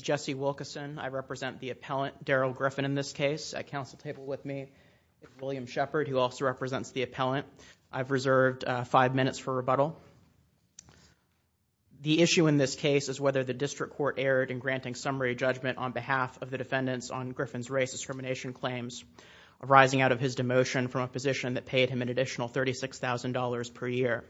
Jesse Wilkinson v. Appellant Darrell Griffin I've reserved five minutes for rebuttal. The issue in this case is whether the district court erred in granting summary judgment on behalf of the defendants on Griffin's race discrimination claims arising out of his demotion from a position that paid him an additional $36,000 per year.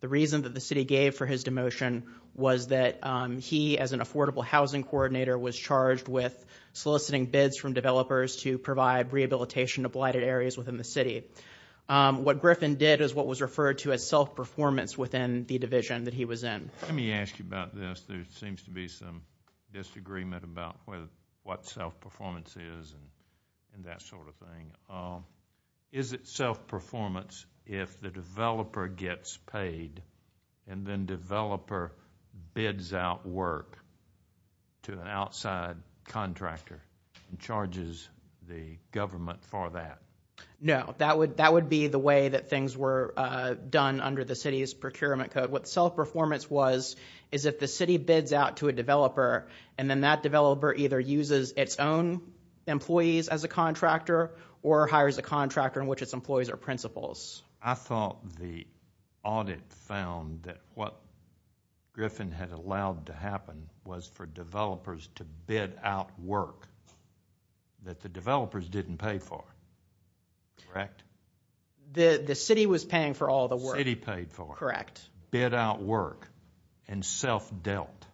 The reason that the city gave for his demotion was that he as an affordable housing coordinator was charged with soliciting bids from developers to provide rehabilitation to blighted areas within the city. What Griffin did is what was referred to as self-performance within the division that he was in. Let me ask you about this. There seems to be some disagreement about what self-performance is and that sort of thing. Is it self-performance if the developer gets paid and then developer bids out work to an outside contractor and charges the government for that? No, that would be the way that things were done under the city's procurement code. What self-performance was is if the city bids out to a developer and then that developer either uses its own employees as a contractor or hires a contractor in which its employees are principals. I thought the audit found that what Griffin had allowed to happen was for developers to bid out work and self-dealt.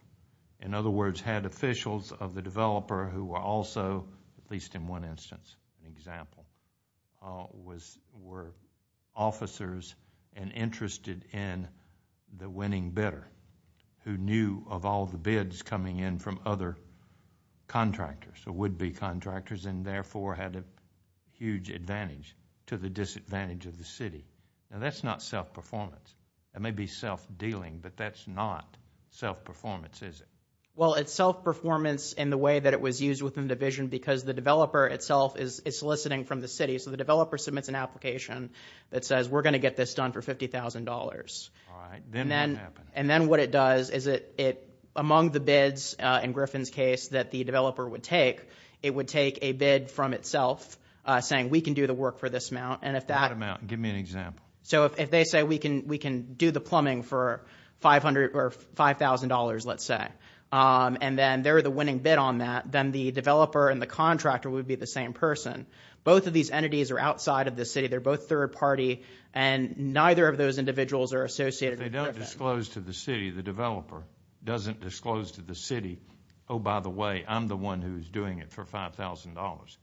In other words, had officials of the developer who were also, at least in one instance, were officers and interested in the winning bidder who knew of all the bids coming in from other would-be contractors and therefore had a huge advantage to the disadvantage of the city. That's not self-performance. That may be self-dealing, but that's not self-performance, is it? It's self-performance in the way that it was used within the division because the developer itself is soliciting from the city. The developer submits an application that says, we're going to get this done for $50,000. Then what it does is among the bids, in Griffin's case, that the developer would take, it would take a bid from itself saying, we can do the work for this amount. That amount. Give me an example. If they say, we can do the plumbing for $5,000, let's say, and then they're the winning bid on that, then the developer and the contractor would be the same person. Both of these entities are outside of the city. They're both third party, and neither of those individuals are associated with Griffin. If they don't disclose to the city, the developer doesn't disclose to the city, oh, by the way, I'm the one who's doing it for $5,000.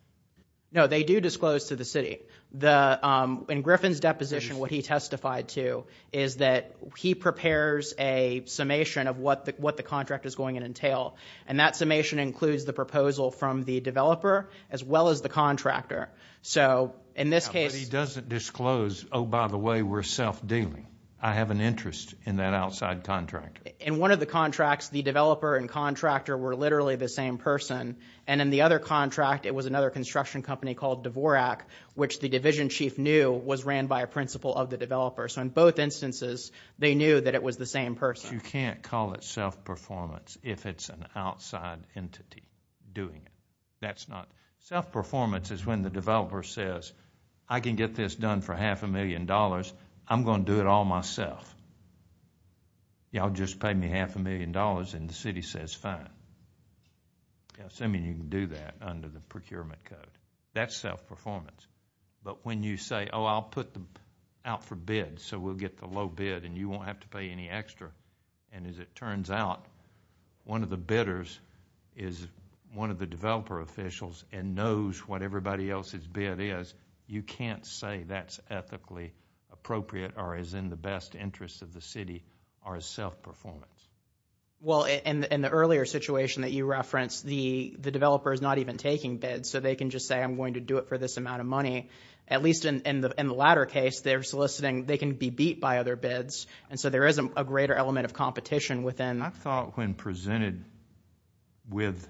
No, they do disclose to the city. In Griffin's deposition, what he testified to is that he prepares a summation of what the contract is going to entail. That summation includes the proposal from the developer as well as the contractor. But he doesn't disclose, oh, by the way, we're self-dealing. I have an interest in that outside contractor. In one of the contracts, the developer and contractor were literally the same person, and in the other contract, it was another construction company called Dvorak, which the division chief knew was ran by a principal of the developer. In both instances, they knew that it was the same person. You can't call it self-performance if it's an outside entity doing it. That's not... Self-performance is when the developer says, I can get this done for half a million dollars. I'm going to do it all myself. Y'all just paid me half a million dollars, and the city says fine. I mean, you can do that under the procurement code. That's self-performance. But when you say, oh, I'll put them out for bid, so we'll get the low bid, and you won't have to pay any extra, and as it turns out, one of the bidders is one of the developer officials and knows what everybody else's bid is, you can't say that's ethically appropriate or is in the best interest of the city or is self-performance. Well, in the earlier situation that you referenced, the developer is not even taking bids, so they can just say, I'm going to do it for this amount of money. At least in the latter case, they're soliciting... They can be beat by other bids, and so there is a greater element of competition within... I thought when presented with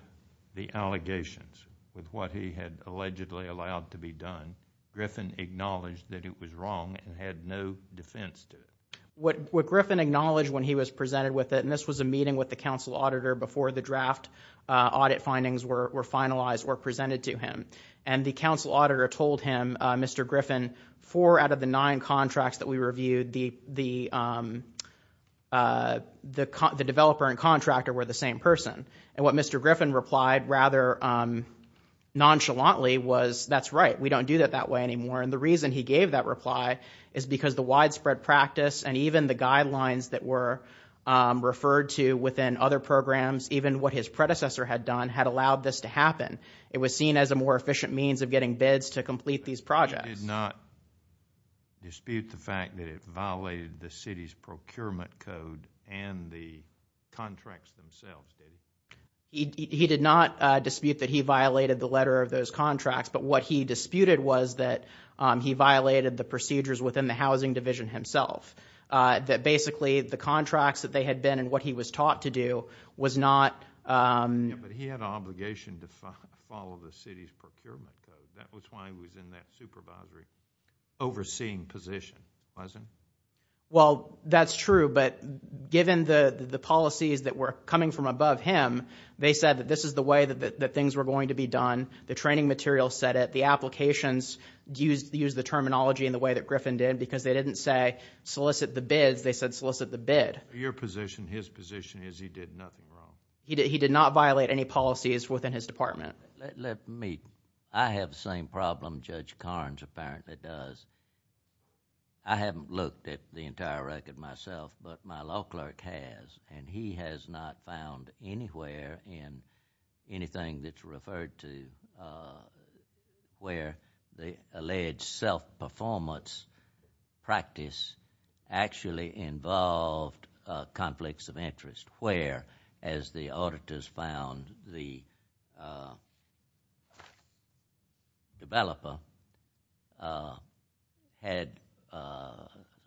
the allegations of what he had allegedly allowed to be done, Griffin acknowledged that it was wrong and had no defense to it. What Griffin acknowledged when he was presented with it, and this was a meeting with the council auditor before the draft audit findings were finalized or presented to him, and the council the same person, and what Mr. Griffin replied rather nonchalantly was, that's right, we don't do that that way anymore, and the reason he gave that reply is because the widespread practice and even the guidelines that were referred to within other programs, even what his predecessor had done, had allowed this to happen. It was seen as a more efficient means of getting bids to complete these projects. He did not dispute the fact that it violated the city's procurement code and the contracts themselves, did he? He did not dispute that he violated the letter of those contracts, but what he disputed was that he violated the procedures within the housing division himself, that basically the contracts that they had been and what he was taught to do was not... Overseeing position, wasn't it? Well, that's true, but given the policies that were coming from above him, they said that this is the way that things were going to be done, the training materials said it, the applications used the terminology in the way that Griffin did because they didn't say solicit the bids, they said solicit the bid. Your position, his position is he did nothing wrong. He did not violate any policies within his department. Let me... I have the same problem Judge Carnes apparently does. I haven't looked at the entire record myself, but my law clerk has and he has not found anywhere in anything that's referred to where the alleged self-performance practice actually involved conflicts of interest where, as the auditors found, the developer had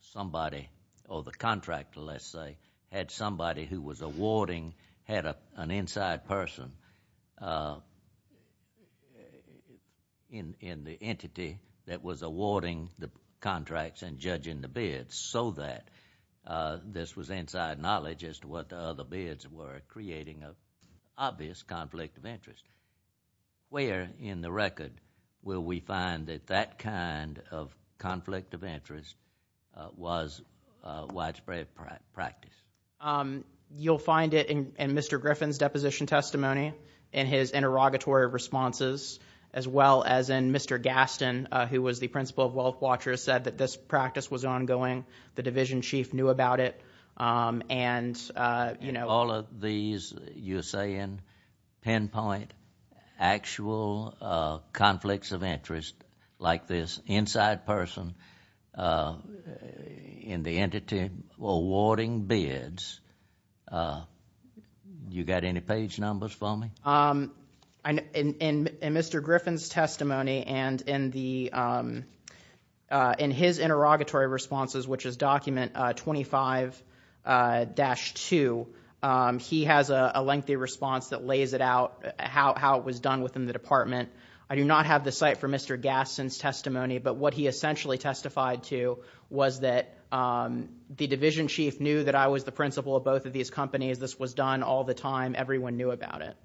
somebody or the contractor, let's say, had somebody who was awarding, had an inside person in the entity that was awarding the contracts and judging the bids so that this was inside knowledge as to what the other bids were creating an obvious conflict of interest. Where in the record will we find that that kind of conflict of interest was widespread practice? You'll find it in Mr. Griffin's deposition testimony and his interrogatory responses as well as in Mr. Gaston, who was the principal of Wealth Watchers, said that this practice was ongoing. The division chief knew about it and, you know... All of these, you're saying, pinpoint actual conflicts of interest like this inside person in the entity awarding bids. You got any page numbers for me? In Mr. Griffin's testimony and in his interrogatory responses, which is document 25-2, he has a lengthy response that lays it out, how it was done within the department. I do not have the site for Mr. Gaston's testimony, but what he essentially testified to was that the division chief knew that I was the principal of both of these companies. This was done all the time. Everyone knew about it.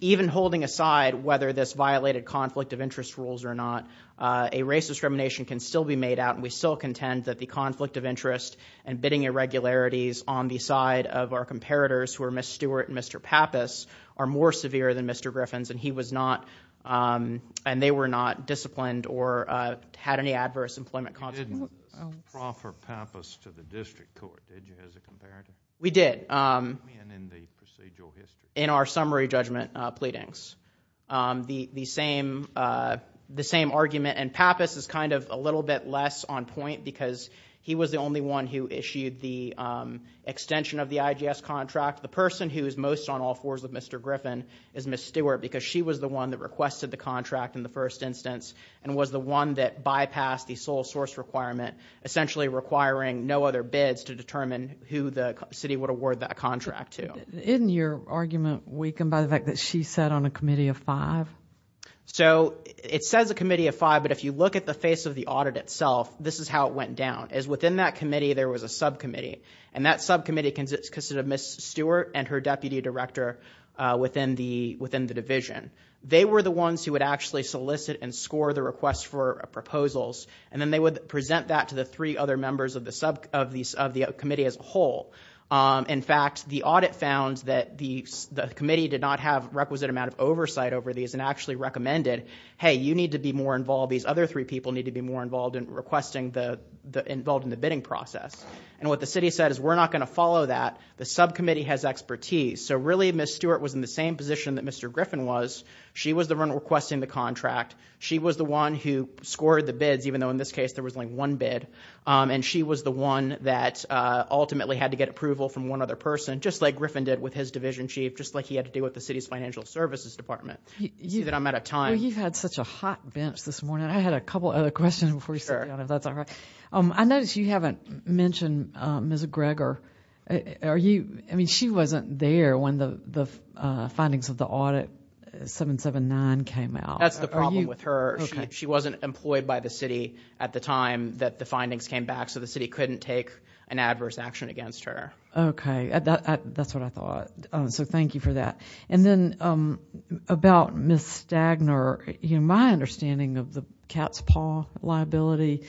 Even holding aside whether this violated conflict of interest rules or not, a race discrimination can still be made out. We still contend that the conflict of interest and bidding irregularities on the side of our comparators, who are Ms. Stewart and Mr. Pappas, are more severe than Mr. Griffin's. He was not, and they were not, disciplined or had any adverse employment consequences. You didn't proffer Pappas to the district court, did you, as a comparator? We did. In the procedural history? In our summary judgment pleadings. The same argument, and Pappas is a little bit less on point because he was the only one who issued the extension of the IGS contract. The person who is most on all fours with Mr. Griffin is Ms. Stewart because she was the one that requested the contract in the first instance and was the one that bypassed the full source requirement, essentially requiring no other bids to determine who the city would award that contract to. Isn't your argument weakened by the fact that she sat on a committee of five? It says a committee of five, but if you look at the face of the audit itself, this is how it went down. Within that committee, there was a subcommittee, and that subcommittee consisted of Ms. Stewart and her deputy director within the division. They were the ones who would actually solicit and score the requests for proposals, and then they would present that to the three other members of the subcommittee as a whole. In fact, the audit found that the committee did not have a requisite amount of oversight over these and actually recommended, hey, you need to be more involved. These other three people need to be more involved in requesting, involved in the bidding process. What the city said is we're not going to follow that. The subcommittee has expertise. Really Ms. Stewart was in the same position that Mr. Griffin was. She was the one requesting the contract. She was the one who scored the bids, even though in this case there was only one bid, and she was the one that ultimately had to get approval from one other person, just like Griffin did with his division chief, just like he had to do with the city's financial services department. I'm out of time. You've had such a hot bench this morning. I had a couple other questions before we sat down, if that's all right. I noticed you haven't mentioned Ms. Greger. She wasn't there when the findings of the audit 779 came out. That's the problem with her. She wasn't employed by the city at the time that the findings came back, so the city couldn't take an adverse action against her. Okay. That's what I thought. Thank you for that. About Ms. Stagner, my understanding of the cat's paw liability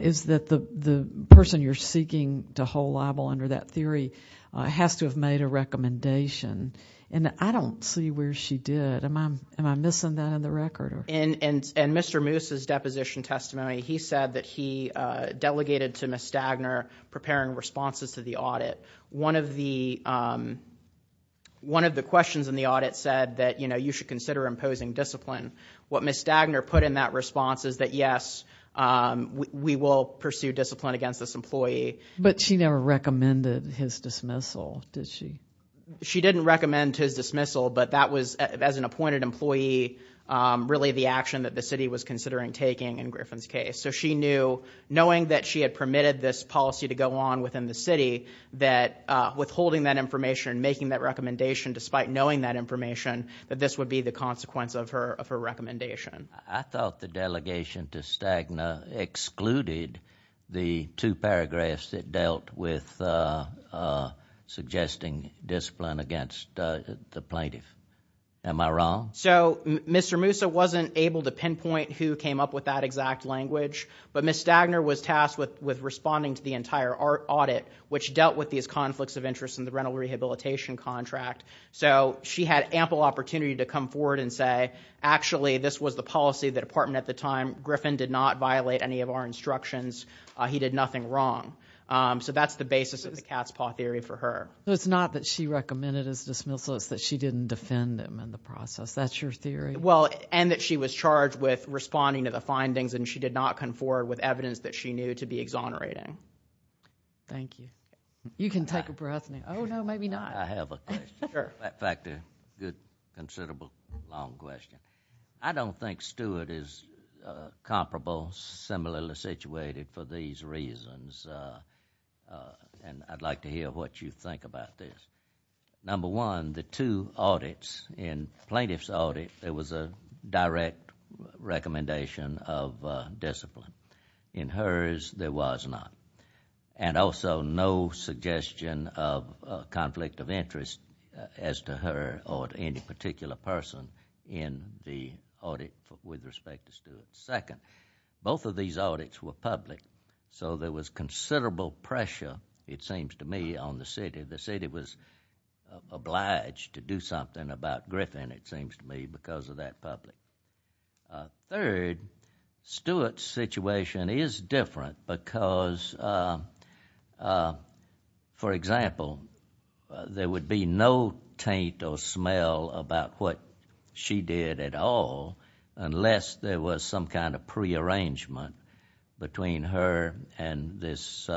is that the person you're seeking to hold liable under that theory has to have made a recommendation. I don't see where she did. Am I missing that in the record? Mr. Moose's deposition testimony, he said that he delegated to Ms. Stagner preparing responses to the audit. One of the questions in the audit said that you should consider imposing discipline. What Ms. Stagner put in that response is that, yes, we will pursue discipline against this employee. She never recommended his dismissal, did she? She didn't recommend his dismissal, but that was, as an appointed employee, really the action that the city was considering taking in Griffin's case. She knew, knowing that she had permitted this policy to go on within the city, that withholding that information and making that recommendation, despite knowing that information, that this would be the consequence of her recommendation. I thought the delegation to Stagner excluded the two paragraphs that dealt with suggesting discipline against the plaintiff. Am I wrong? So, Mr. Moose wasn't able to pinpoint who came up with that exact language, but Ms. Stagner was tasked with responding to the entire audit, which dealt with these conflicts of interest in the rental rehabilitation contract, so she had ample opportunity to come forward and say, actually, this was the policy of the department at the time. Griffin did not violate any of our instructions. He did nothing wrong. So that's the basis of the cat's paw theory for her. It's not that she recommended his dismissal, it's that she didn't defend him in the process. That's your theory? Well, and that she was charged with responding to the findings, and she did not come forward with evidence that she knew to be exonerating. Thank you. You can take a breath now. Oh, no, maybe not. I have a question. Sure. In fact, a good, considerable, long question. I don't think Stewart is comparable, similarly situated, for these reasons, and I'd like to hear what you think about this. Number one, the two audits, in plaintiff's audit, there was a direct recommendation of discipline. In hers, there was not. And also, no suggestion of conflict of interest as to her or to any particular person in the audit with respect to Stewart. Second, both of these audits were public, so there was considerable pressure, it seems to me, on the city. The city was obliged to do something about Griffin, it seems to me, because of that public. Third, Stewart's situation is different because, for example, there would be no taint or smell about what she did at all unless there was some kind of prearrangement between her and this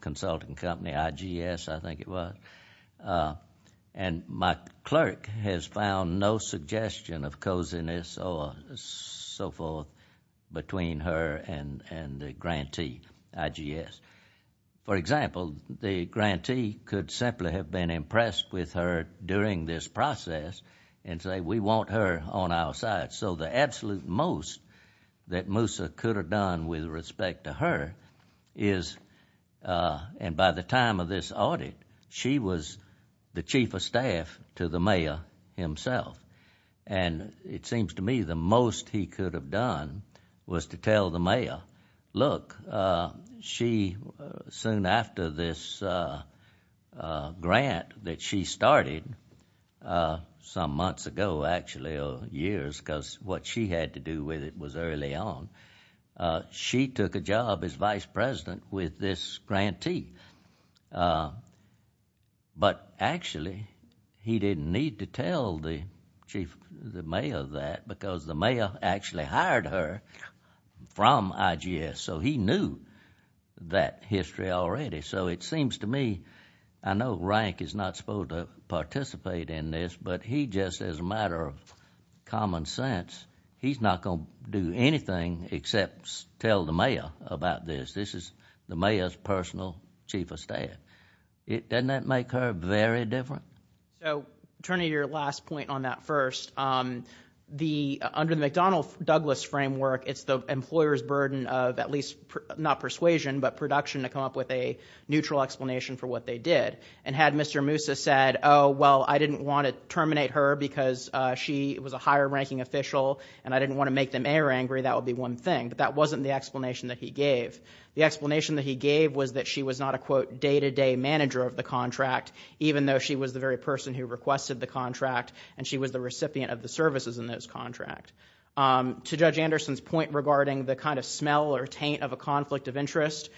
consulting company, IGS, I think it was. And my clerk has found no suggestion of coziness or so forth between her and the grantee, IGS. For example, the grantee could simply have been impressed with her during this process and say, we want her on our side. So the absolute most that Moosa could have done with respect to her is, and by the time of this audit, she was the chief of staff to the mayor himself. And it seems to me the most he could have done was to tell the mayor, look, she, soon after this grant that she started, some months ago, actually, or years, because what she had to do with it was early on, she took a job as vice president with this grantee. But actually, he didn't need to tell the chief, the mayor that because the mayor actually hired her from IGS. So he knew that history already. So it seems to me, I know Rank is not supposed to participate in this, but he just, as a he's not going to do anything except tell the mayor about this. This is the mayor's personal chief of staff. Doesn't that make her very different? So, attorney, your last point on that first. Under the McDonnell-Douglas framework, it's the employer's burden of at least, not persuasion, but production to come up with a neutral explanation for what they did. And had Mr. Moosa said, oh, well, I didn't want to terminate her because she was a higher ranking official, and I didn't want to make the mayor angry, that would be one thing. But that wasn't the explanation that he gave. The explanation that he gave was that she was not a, quote, day-to-day manager of the contract, even though she was the very person who requested the contract, and she was the recipient of the services in those contracts. To Judge Anderson's point regarding the kind of smell or taint of a conflict of interest,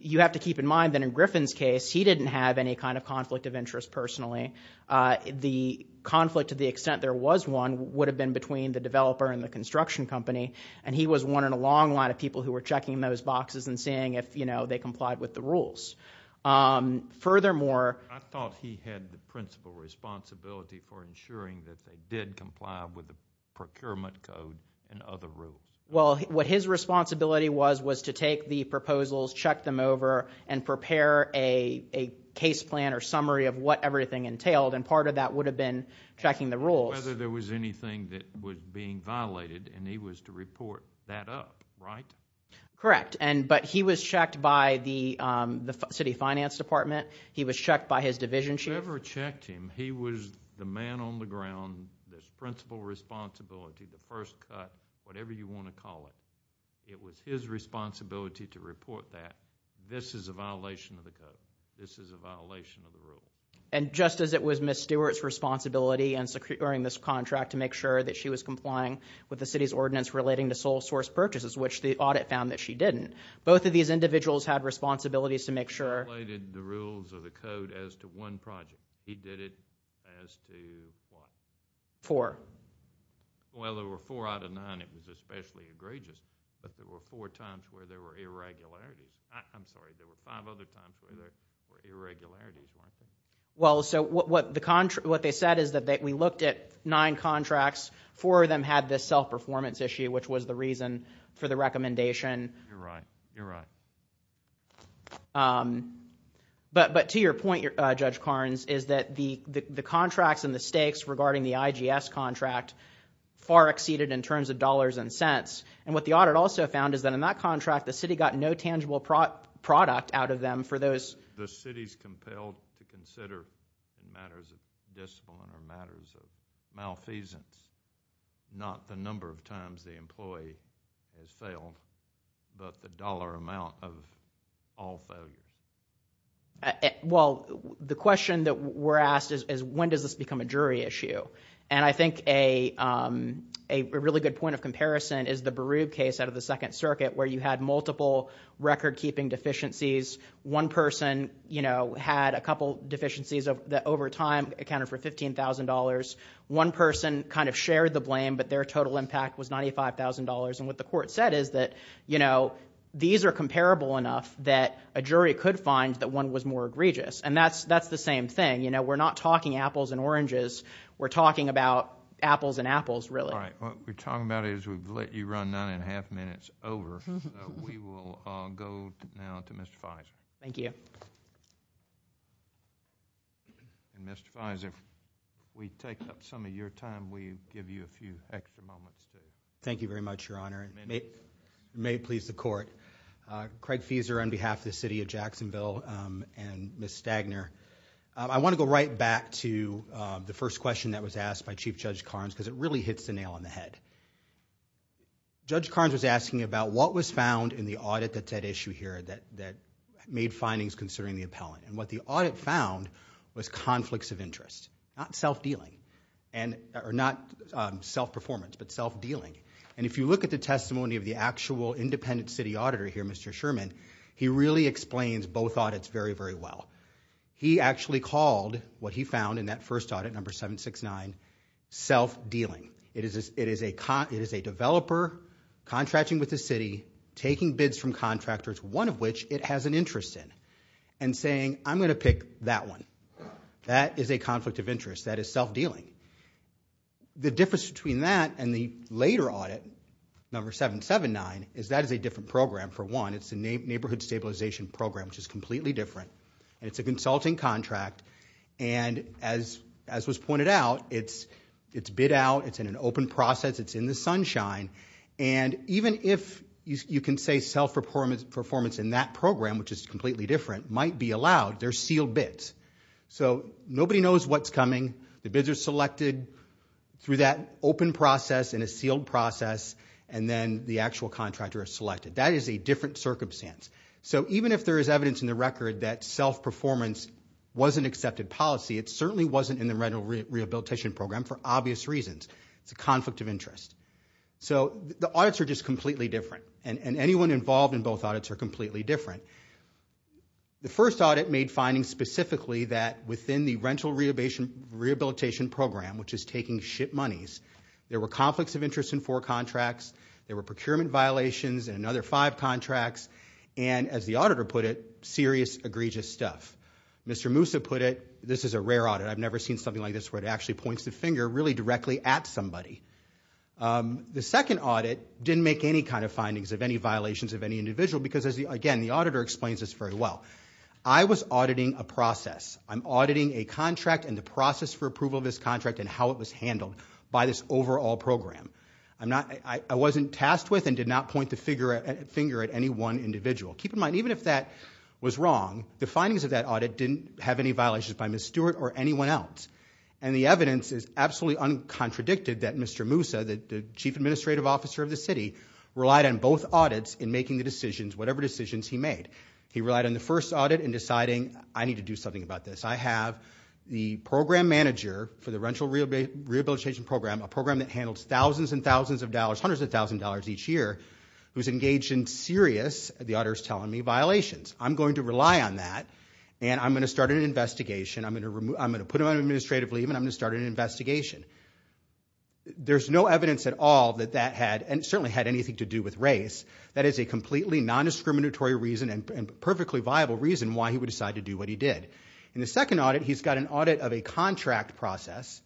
you have to keep in mind that in Griffin's case, he didn't have any kind of conflict of interest, personally. The conflict, to the extent there was one, would have been between the developer and the construction company, and he was one in a long line of people who were checking those boxes and seeing if, you know, they complied with the rules. Furthermore... I thought he had the principal responsibility for ensuring that they did comply with the procurement code and other rules. Well, what his responsibility was, was to take the proposals, check them over, and prepare a case plan or summary of what everything entailed, and part of that would have been checking the rules. Whether there was anything that was being violated, and he was to report that up, right? Correct. But he was checked by the city finance department. He was checked by his division chief. Whoever checked him, he was the man on the ground, the principal responsibility, the first cut, whatever you want to call it. It was his responsibility to report that. This is a violation of the code. This is a violation of the rule. And just as it was Ms. Stewart's responsibility in securing this contract to make sure that she was complying with the city's ordinance relating to sole source purchases, which the audit found that she didn't, both of these individuals had responsibilities to make sure... He violated the rules of the code as to one project. He did it as to what? Four. Well, there were four out of nine. It was especially egregious, but there were four times where there were irregularities. I'm sorry, there were five other times where there were irregularities, weren't there? Well, so what they said is that we looked at nine contracts, four of them had this self-performance issue, which was the reason for the recommendation. You're right. You're right. But to your point, Judge Carnes, is that the contracts and the stakes regarding the IGS contract far exceeded in terms of dollars and cents. And what the audit also found is that in that contract, the city got no tangible product out of them for those... The city's compelled to consider matters of discipline or matters of malfeasance, not the number of times the employee has failed, but the dollar amount of all failures. Well, the question that we're asked is when does this become a jury issue? And I think a really good point of comparison is the Barub case out of the Second Circuit where you had multiple record-keeping deficiencies. One person had a couple deficiencies that over time accounted for $15,000. One person kind of shared the blame, but their total impact was $95,000. And what the court said is that these are comparable enough that a jury could find that one was more egregious. And that's the same thing. We're not talking apples and oranges. We're talking about apples and apples, really. All right. What we're talking about is we've let you run nine and a half minutes over. So we will go now to Mr. Fizer. Thank you. And Mr. Fizer, if we take up some of your time, we give you a few extra moments, too. Thank you very much, Your Honor. It may please the court. Craig Fizer on behalf of the city of Jacksonville and Ms. Stagner. I want to go right back to the first question that was asked by Chief Judge Carnes because it really hits the nail on the head. Judge Carnes was asking about what was found in the audit that's at issue here that made findings concerning the appellant. And what the audit found was conflicts of interest. Not self-performance, but self-dealing. And if you look at the testimony of the actual independent city auditor here, Mr. Sherman, he really explains both audits very, very well. He actually called what he found in that first audit, number 769, self-dealing. It is a developer contracting with the city, taking bids from contractors, one of which it has an interest in, and saying, I'm going to pick that one. That is a conflict of interest. That is self-dealing. The difference between that and the later audit, number 779, is that is a different program, for one. It's a neighborhood stabilization program, which is completely different. It's a consulting contract, and as was pointed out, it's bid out, it's in an open process, it's in the sunshine. And even if you can say self-performance in that program, which is completely different, might be allowed, they're sealed bids. So nobody knows what's coming. The bids are selected through that open process and a sealed process, and then the actual contractor is selected. That is a different circumstance. So even if there is evidence in the record that self-performance wasn't accepted policy, it certainly wasn't in the rental rehabilitation program for obvious reasons. It's a conflict of interest. So the audits are just completely different, and anyone involved in both audits are completely different. The first audit made findings specifically that within the rental rehabilitation program, which is taking ship monies, there were conflicts of interest in four contracts, there were procurement violations in another five contracts, and as the auditor put it, serious, egregious stuff. Mr. Moussa put it, this is a rare audit, I've never seen something like this where it actually points the finger really directly at somebody. The second audit didn't make any kind of findings of any violations of any individual because, again, the auditor explains this very well. I was auditing a process. I'm auditing a contract and the process for approval of this contract and how it was handled by this overall program. I wasn't tasked with and did not point the finger at any one individual. Keep in mind, even if that was wrong, the findings of that audit didn't have any violations by Ms. Stewart or anyone else. And the evidence is absolutely uncontradicted that Mr. Moussa, the chief administrative officer of the city, relied on both audits in making the decisions, whatever decisions he made. He relied on the first audit in deciding, I need to do something about this. I have the program manager for the rental rehabilitation program, a program that handles thousands and thousands of dollars, hundreds of thousands of dollars each year, who's engaged in serious, the auditor's telling me, violations. I'm going to rely on that and I'm going to start an investigation. I'm going to put him on administrative leave and I'm going to start an investigation. There's no evidence at all that that had, and certainly had anything to do with race. That is a completely non-discriminatory reason and perfectly viable reason why he would decide to do what he did. In the second audit, he's got an audit of a contract process.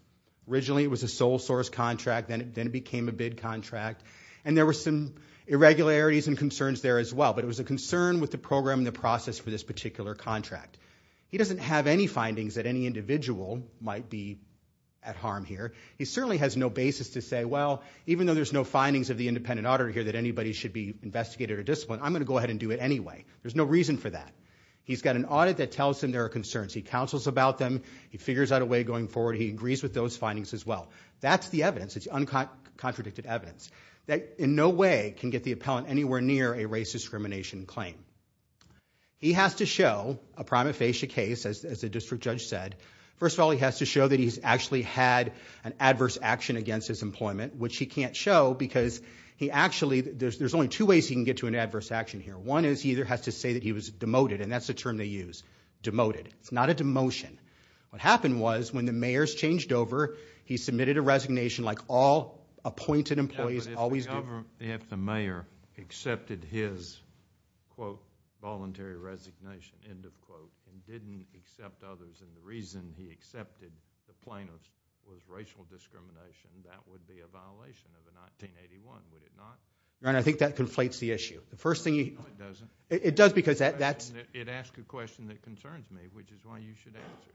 Originally it was a sole source contract, then it became a bid contract. And there were some irregularities and concerns there as well. But it was a concern with the program and the process for this particular contract. He doesn't have any findings that any individual might be at harm here. He certainly has no basis to say, well, even though there's no findings of the independent auditor here that anybody should be investigated or disciplined, I'm going to go ahead and do it anyway. There's no reason for that. He's got an audit that tells him there are concerns. He counsels about them. He figures out a way going forward. He agrees with those findings as well. That's the evidence. It's uncontradicted evidence that in no way can get the appellant anywhere near a race discrimination claim. He has to show a prima facie case, as the district judge said. First of all, he has to show that he's actually had an adverse action against his employment, which he can't show, because there's only two ways he can get to an adverse action here. One is he either has to say that he was demoted, and that's the term they use, demoted. It's not a demotion. What happened was, when the mayor's changed over, he submitted a resignation like all appointed employees always do. If the mayor accepted his, quote, voluntary resignation, end of quote, and didn't accept others, and the reason he accepted the plaintiff was racial discrimination, that would be a violation of the 1981, would it not? I think that conflates the issue. No, it doesn't. It does because that's- It asks a question that concerns me, which is why you should answer.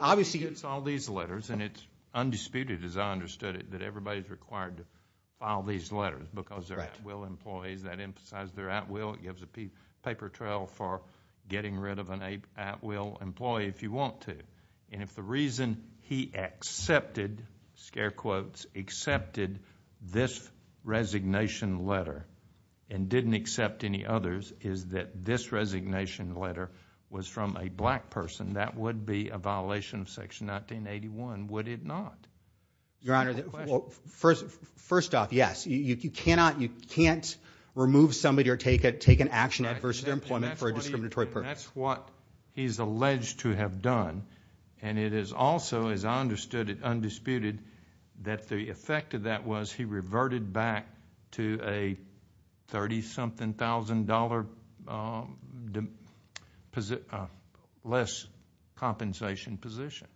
Obviously- It's all these letters, and it's undisputed, as I understood it, that everybody's required to file these letters because they're at-will employees. That emphasizes they're at-will. It gives a paper trail for getting rid of an at-will employee if you want to. If the reason he accepted, scare quotes, accepted this resignation letter and didn't accept any others is that this resignation letter was from a black person, that would be a violation of Section 1981, would it not? Your Honor, first off, yes. You cannot, you can't remove somebody or take an action adverse to their employment for a discriminatory purpose. That's what he's alleged to have done, and it is also, as I understood it, undisputed, that the effect of that was he reverted back to a $30-something thousand less compensation position.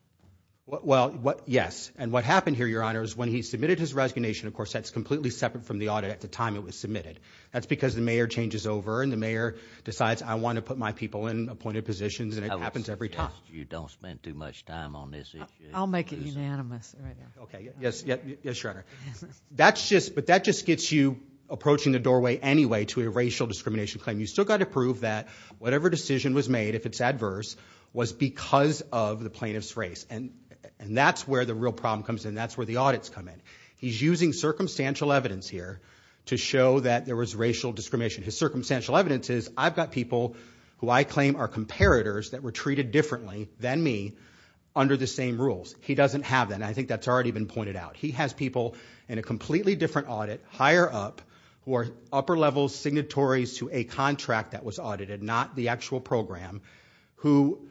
Well, yes, and what happened here, Your Honor, is when he submitted his resignation, of course, that's completely separate from the audit at the time it was submitted. That's because the mayor changes over, and the mayor decides I want to put my people in appointed positions, and it happens every time. I would suggest you don't spend too much time on this issue. I'll make it unanimous right now. Okay, yes, Your Honor. But that just gets you approaching the doorway anyway to a racial discrimination claim. You've still got to prove that whatever decision was made, if it's adverse, was because of the plaintiff's race, and that's where the real problem comes in. That's where the audits come in. He's using circumstantial evidence here to show that there was racial discrimination. His circumstantial evidence is I've got people who I claim are comparators that were treated differently than me under the same rules. He doesn't have that, and I think that's already been pointed out. He has people in a completely different audit, higher up, who are upper-level signatories to a contract that was audited, not the actual program, who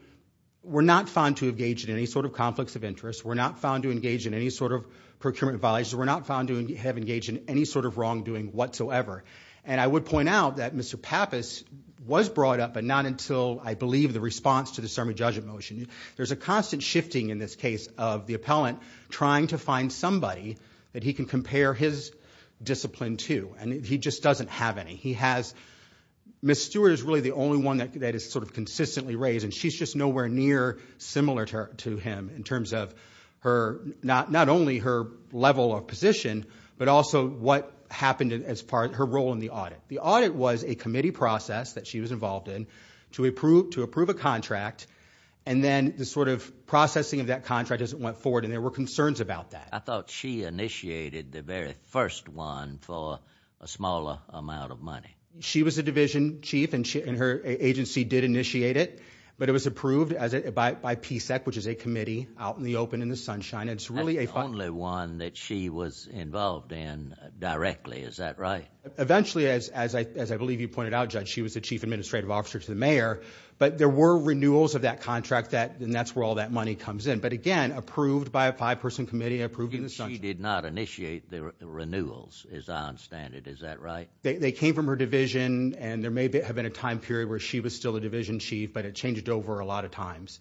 were not found to engage in any sort of conflicts of interest, were not found to engage in any sort of procurement violations, were not found to have engaged in any sort of wrongdoing whatsoever. And I would point out that Mr. Pappas was brought up, but not until, I believe, the response to the Sermon Judgement motion. There's a constant shifting in this case of the appellant trying to find somebody that he can compare his discipline to, and he just doesn't have any. He has... Ms. Stewart is really the only one that is sort of consistently raised, and she's just nowhere near similar to him in terms of not only her level of position, but also what happened as far as her role in the audit. The audit was a committee process that she was involved in to approve a contract, and then the sort of processing of that contract as it went forward, and there were concerns about that. I thought she initiated the very first one for a smaller amount of money. She was the division chief, and her agency did initiate it, but it was approved by PSEC, which is a committee out in the open in the sunshine. That's the only one that she was involved in directly, is that right? Eventually, as I believe you pointed out, Judge, she was the chief administrative officer to the mayor, but there were renewals of that contract, and that's where all that money comes in, but again, approved by a five-person committee. She did not initiate the renewals, as I understand it. Is that right? They came from her division, and there may have been a time period where she was still the division chief, but it changed over a lot of times.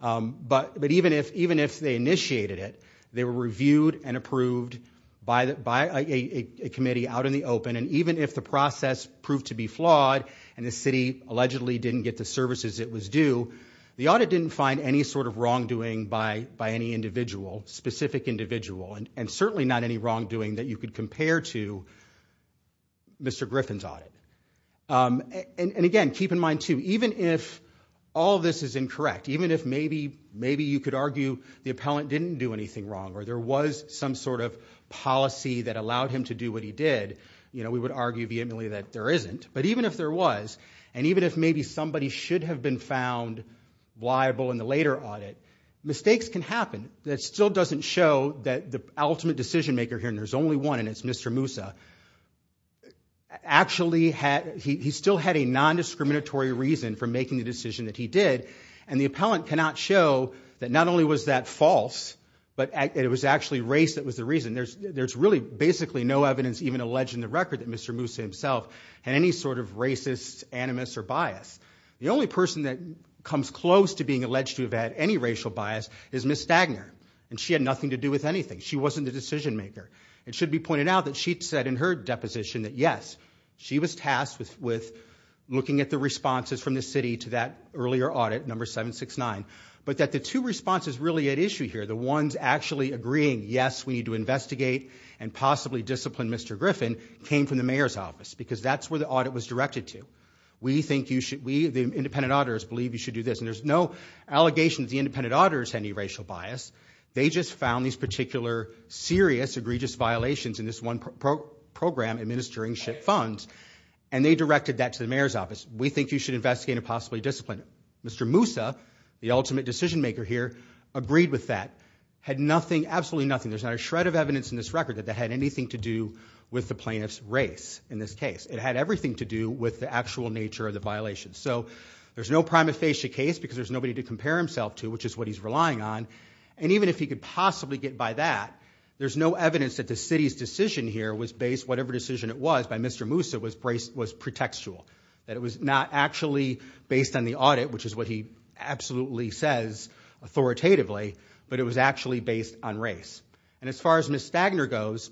But even if they initiated it, they were reviewed and approved by a committee out in the open, and even if the process proved to be flawed and the city allegedly didn't get the services it was due, the audit didn't find any sort of wrongdoing by any individual, specific individual, and certainly not any wrongdoing that you could compare to Mr. Griffin's audit. And again, keep in mind too, even if all this is incorrect, even if maybe you could argue the appellant didn't do anything wrong or there was some sort of policy that allowed him to do what he did, we would argue vehemently that there isn't. But even if there was, and even if maybe somebody should have been found liable in the later audit, mistakes can happen. That still doesn't show that the ultimate decision-maker here, and there's only one, and it's Mr. Moussa, actually still had a nondiscriminatory reason for making the decision that he did, and the appellant cannot show that not only was that false, but it was actually race that was the reason. There's really basically no evidence even alleged in the record that Mr. Moussa himself had any sort of racist, animus, or bias. The only person that comes close to being alleged to have had any racial bias is Ms. Stagner, and she had nothing to do with anything. She wasn't the decision-maker. It should be pointed out that she said in her deposition that yes, she was tasked with looking at the responses from the city to that earlier audit, number 769, but that the two responses really at issue here, the ones actually agreeing, yes, we need to investigate and possibly discipline Mr. Griffin, came from the mayor's office because that's where the audit was directed to. We, the independent auditors, believe you should do this, and there's no allegation that the independent auditors had any racial bias. They just found these particular serious, egregious violations in this one program administering SHIP funds, and they directed that to the mayor's office. We think you should investigate and possibly discipline him. Mr. Moussa, the ultimate decision-maker here, agreed with that, had nothing, absolutely nothing. There's not a shred of evidence in this record that that had anything to do with the plaintiff's race in this case. It had everything to do with the actual nature of the violation. So there's no prima facie case because there's nobody to compare himself to, which is what he's relying on, and even if he could possibly get by that, there's no evidence that the city's decision here was based whatever decision it was by Mr. Moussa was pretextual, that it was not actually based on the audit, which is what he absolutely says authoritatively, but it was actually based on race. And as far as Ms. Stagner goes,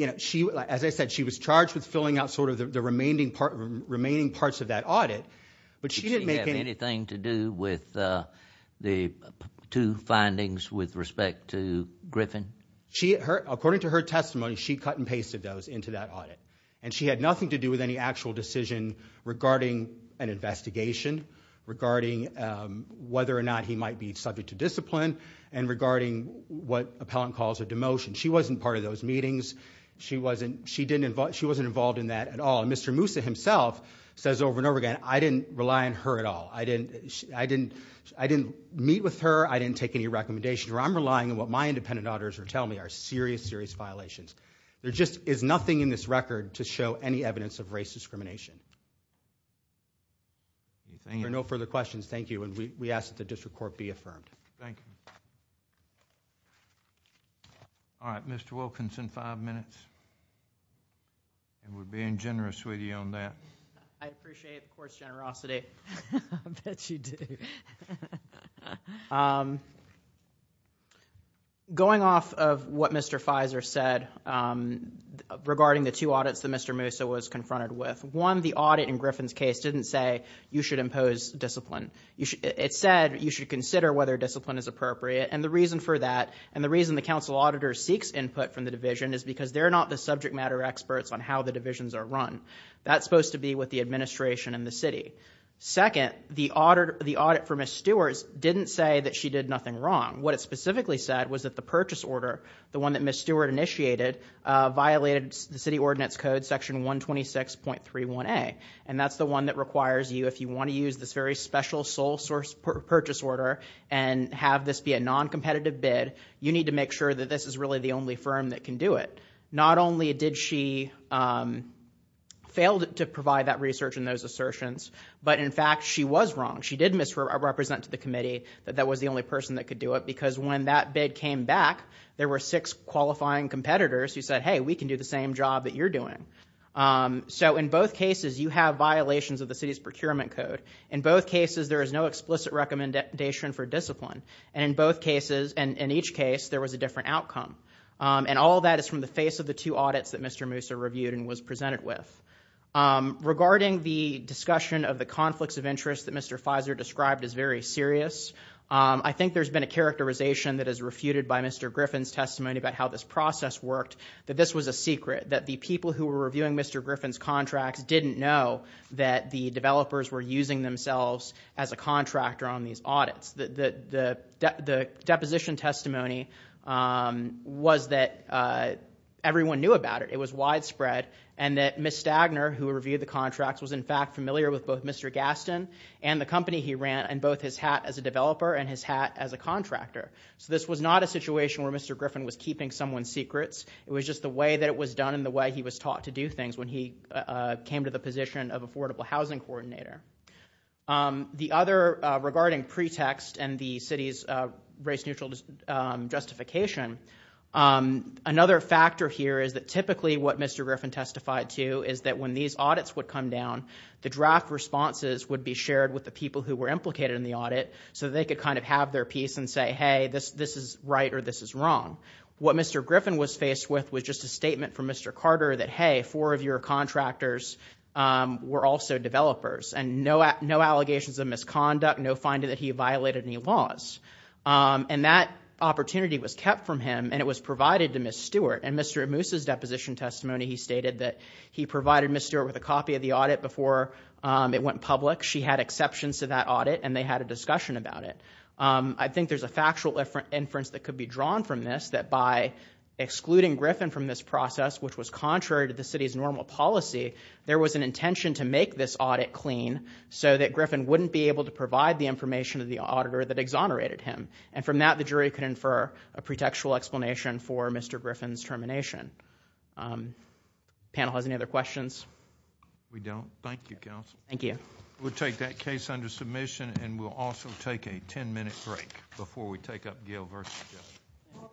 as I said, she was charged with filling out sort of the remaining parts of that audit, but she didn't make any... Did she have anything to do with the two findings with respect to Griffin? According to her testimony, she cut and pasted those into that audit, and she had nothing to do with any actual decision regarding an investigation, regarding whether or not he might be subject to discipline, and regarding what appellant calls a demotion. She wasn't part of those meetings. She wasn't involved in that at all, and Mr. Moussa himself says over and over again, I didn't rely on her at all. I didn't meet with her. I didn't take any recommendations. I'm relying on what my independent auditors are telling me are serious, serious violations. There just is nothing in this record to show any evidence of race discrimination. If there are no further questions, thank you, and we ask that the district court be affirmed. Thank you. All right, Mr. Wilkinson, five minutes. And we're being generous with you on that. I appreciate the court's generosity. I bet you do. Going off of what Mr. Fizer said regarding the two audits that Mr. Moussa was confronted with, one, the audit in Griffin's case didn't say you should impose discipline. It said you should consider whether discipline is appropriate, and the reason for that, and the reason the council auditor seeks input from the division is because they're not the subject matter experts on how the divisions are run. That's supposed to be with the administration and the city. Second, the audit for Ms. Stewart didn't say that she did nothing wrong. What it specifically said was that the purchase order, the one that Ms. Stewart initiated, violated the city ordinance code section 126.31a, and that's the one that requires you, if you want to use this very special sole-source purchase order and have this be a noncompetitive bid, you need to make sure that this is really the only firm that can do it. Not only did she fail to provide that research and those assertions, but in fact, she was wrong. She did misrepresent to the committee that that was the only person that could do it, because when that bid came back, there were six qualifying competitors who said, hey, we can do the same job that you're doing. So in both cases, you have violations of the city's procurement code. In both cases, there is no explicit recommendation for discipline. And in both cases, in each case, there was a different outcome. And all that is from the face of the two audits that Mr. Moussa reviewed and was presented with. Regarding the discussion of the conflicts of interest that Mr. Fizer described as very serious, I think there's been a characterization that is refuted by Mr. Griffin's testimony about how this process worked, that this was a secret, that the people who were reviewing Mr. Griffin's contracts didn't know that the developers were using themselves as a contractor on these audits. The deposition testimony was that everyone knew about it. It was widespread, and that Ms. Stagner, who reviewed the contracts, was in fact familiar with both Mr. Gaston and the company he ran, and both his hat as a developer and his hat as a contractor. So this was not a situation where Mr. Griffin was keeping someone's secrets. It was just the way that it was done and the way he was taught to do things when he came to the position of affordable housing coordinator. The other, regarding pretext and the city's race-neutral justification, another factor here is that typically what Mr. Griffin testified to is that when these audits would come down, the draft responses would be shared with the people who were implicated in the audit so that they could kind of have their piece and say, hey, this is right or this is wrong. What Mr. Griffin was faced with was just a statement from Mr. Carter that, hey, four of your contractors were also developers, and no allegations of misconduct, no finding that he violated any laws. And that opportunity was kept from him, and it was provided to Ms. Stewart. In Mr. Amoosa's deposition testimony, he stated that he provided Ms. Stewart with a copy of the audit before it went public. She had exceptions to that audit, and they had a discussion about it. I think there's a factual inference that could be drawn from this, that by excluding Griffin from this process, which was contrary to the city's normal policy, there was an intention to make this audit clean so that Griffin wouldn't be able to provide the information to the auditor that exonerated him. And from that, the jury could infer a pretextual explanation for Mr. Griffin's termination. Panel has any other questions? We don't. Thank you, counsel. Thank you. We'll take that case under submission, and we'll also take a 10-minute break before we take up Gail versus Jeff. All rise. We'll be right back.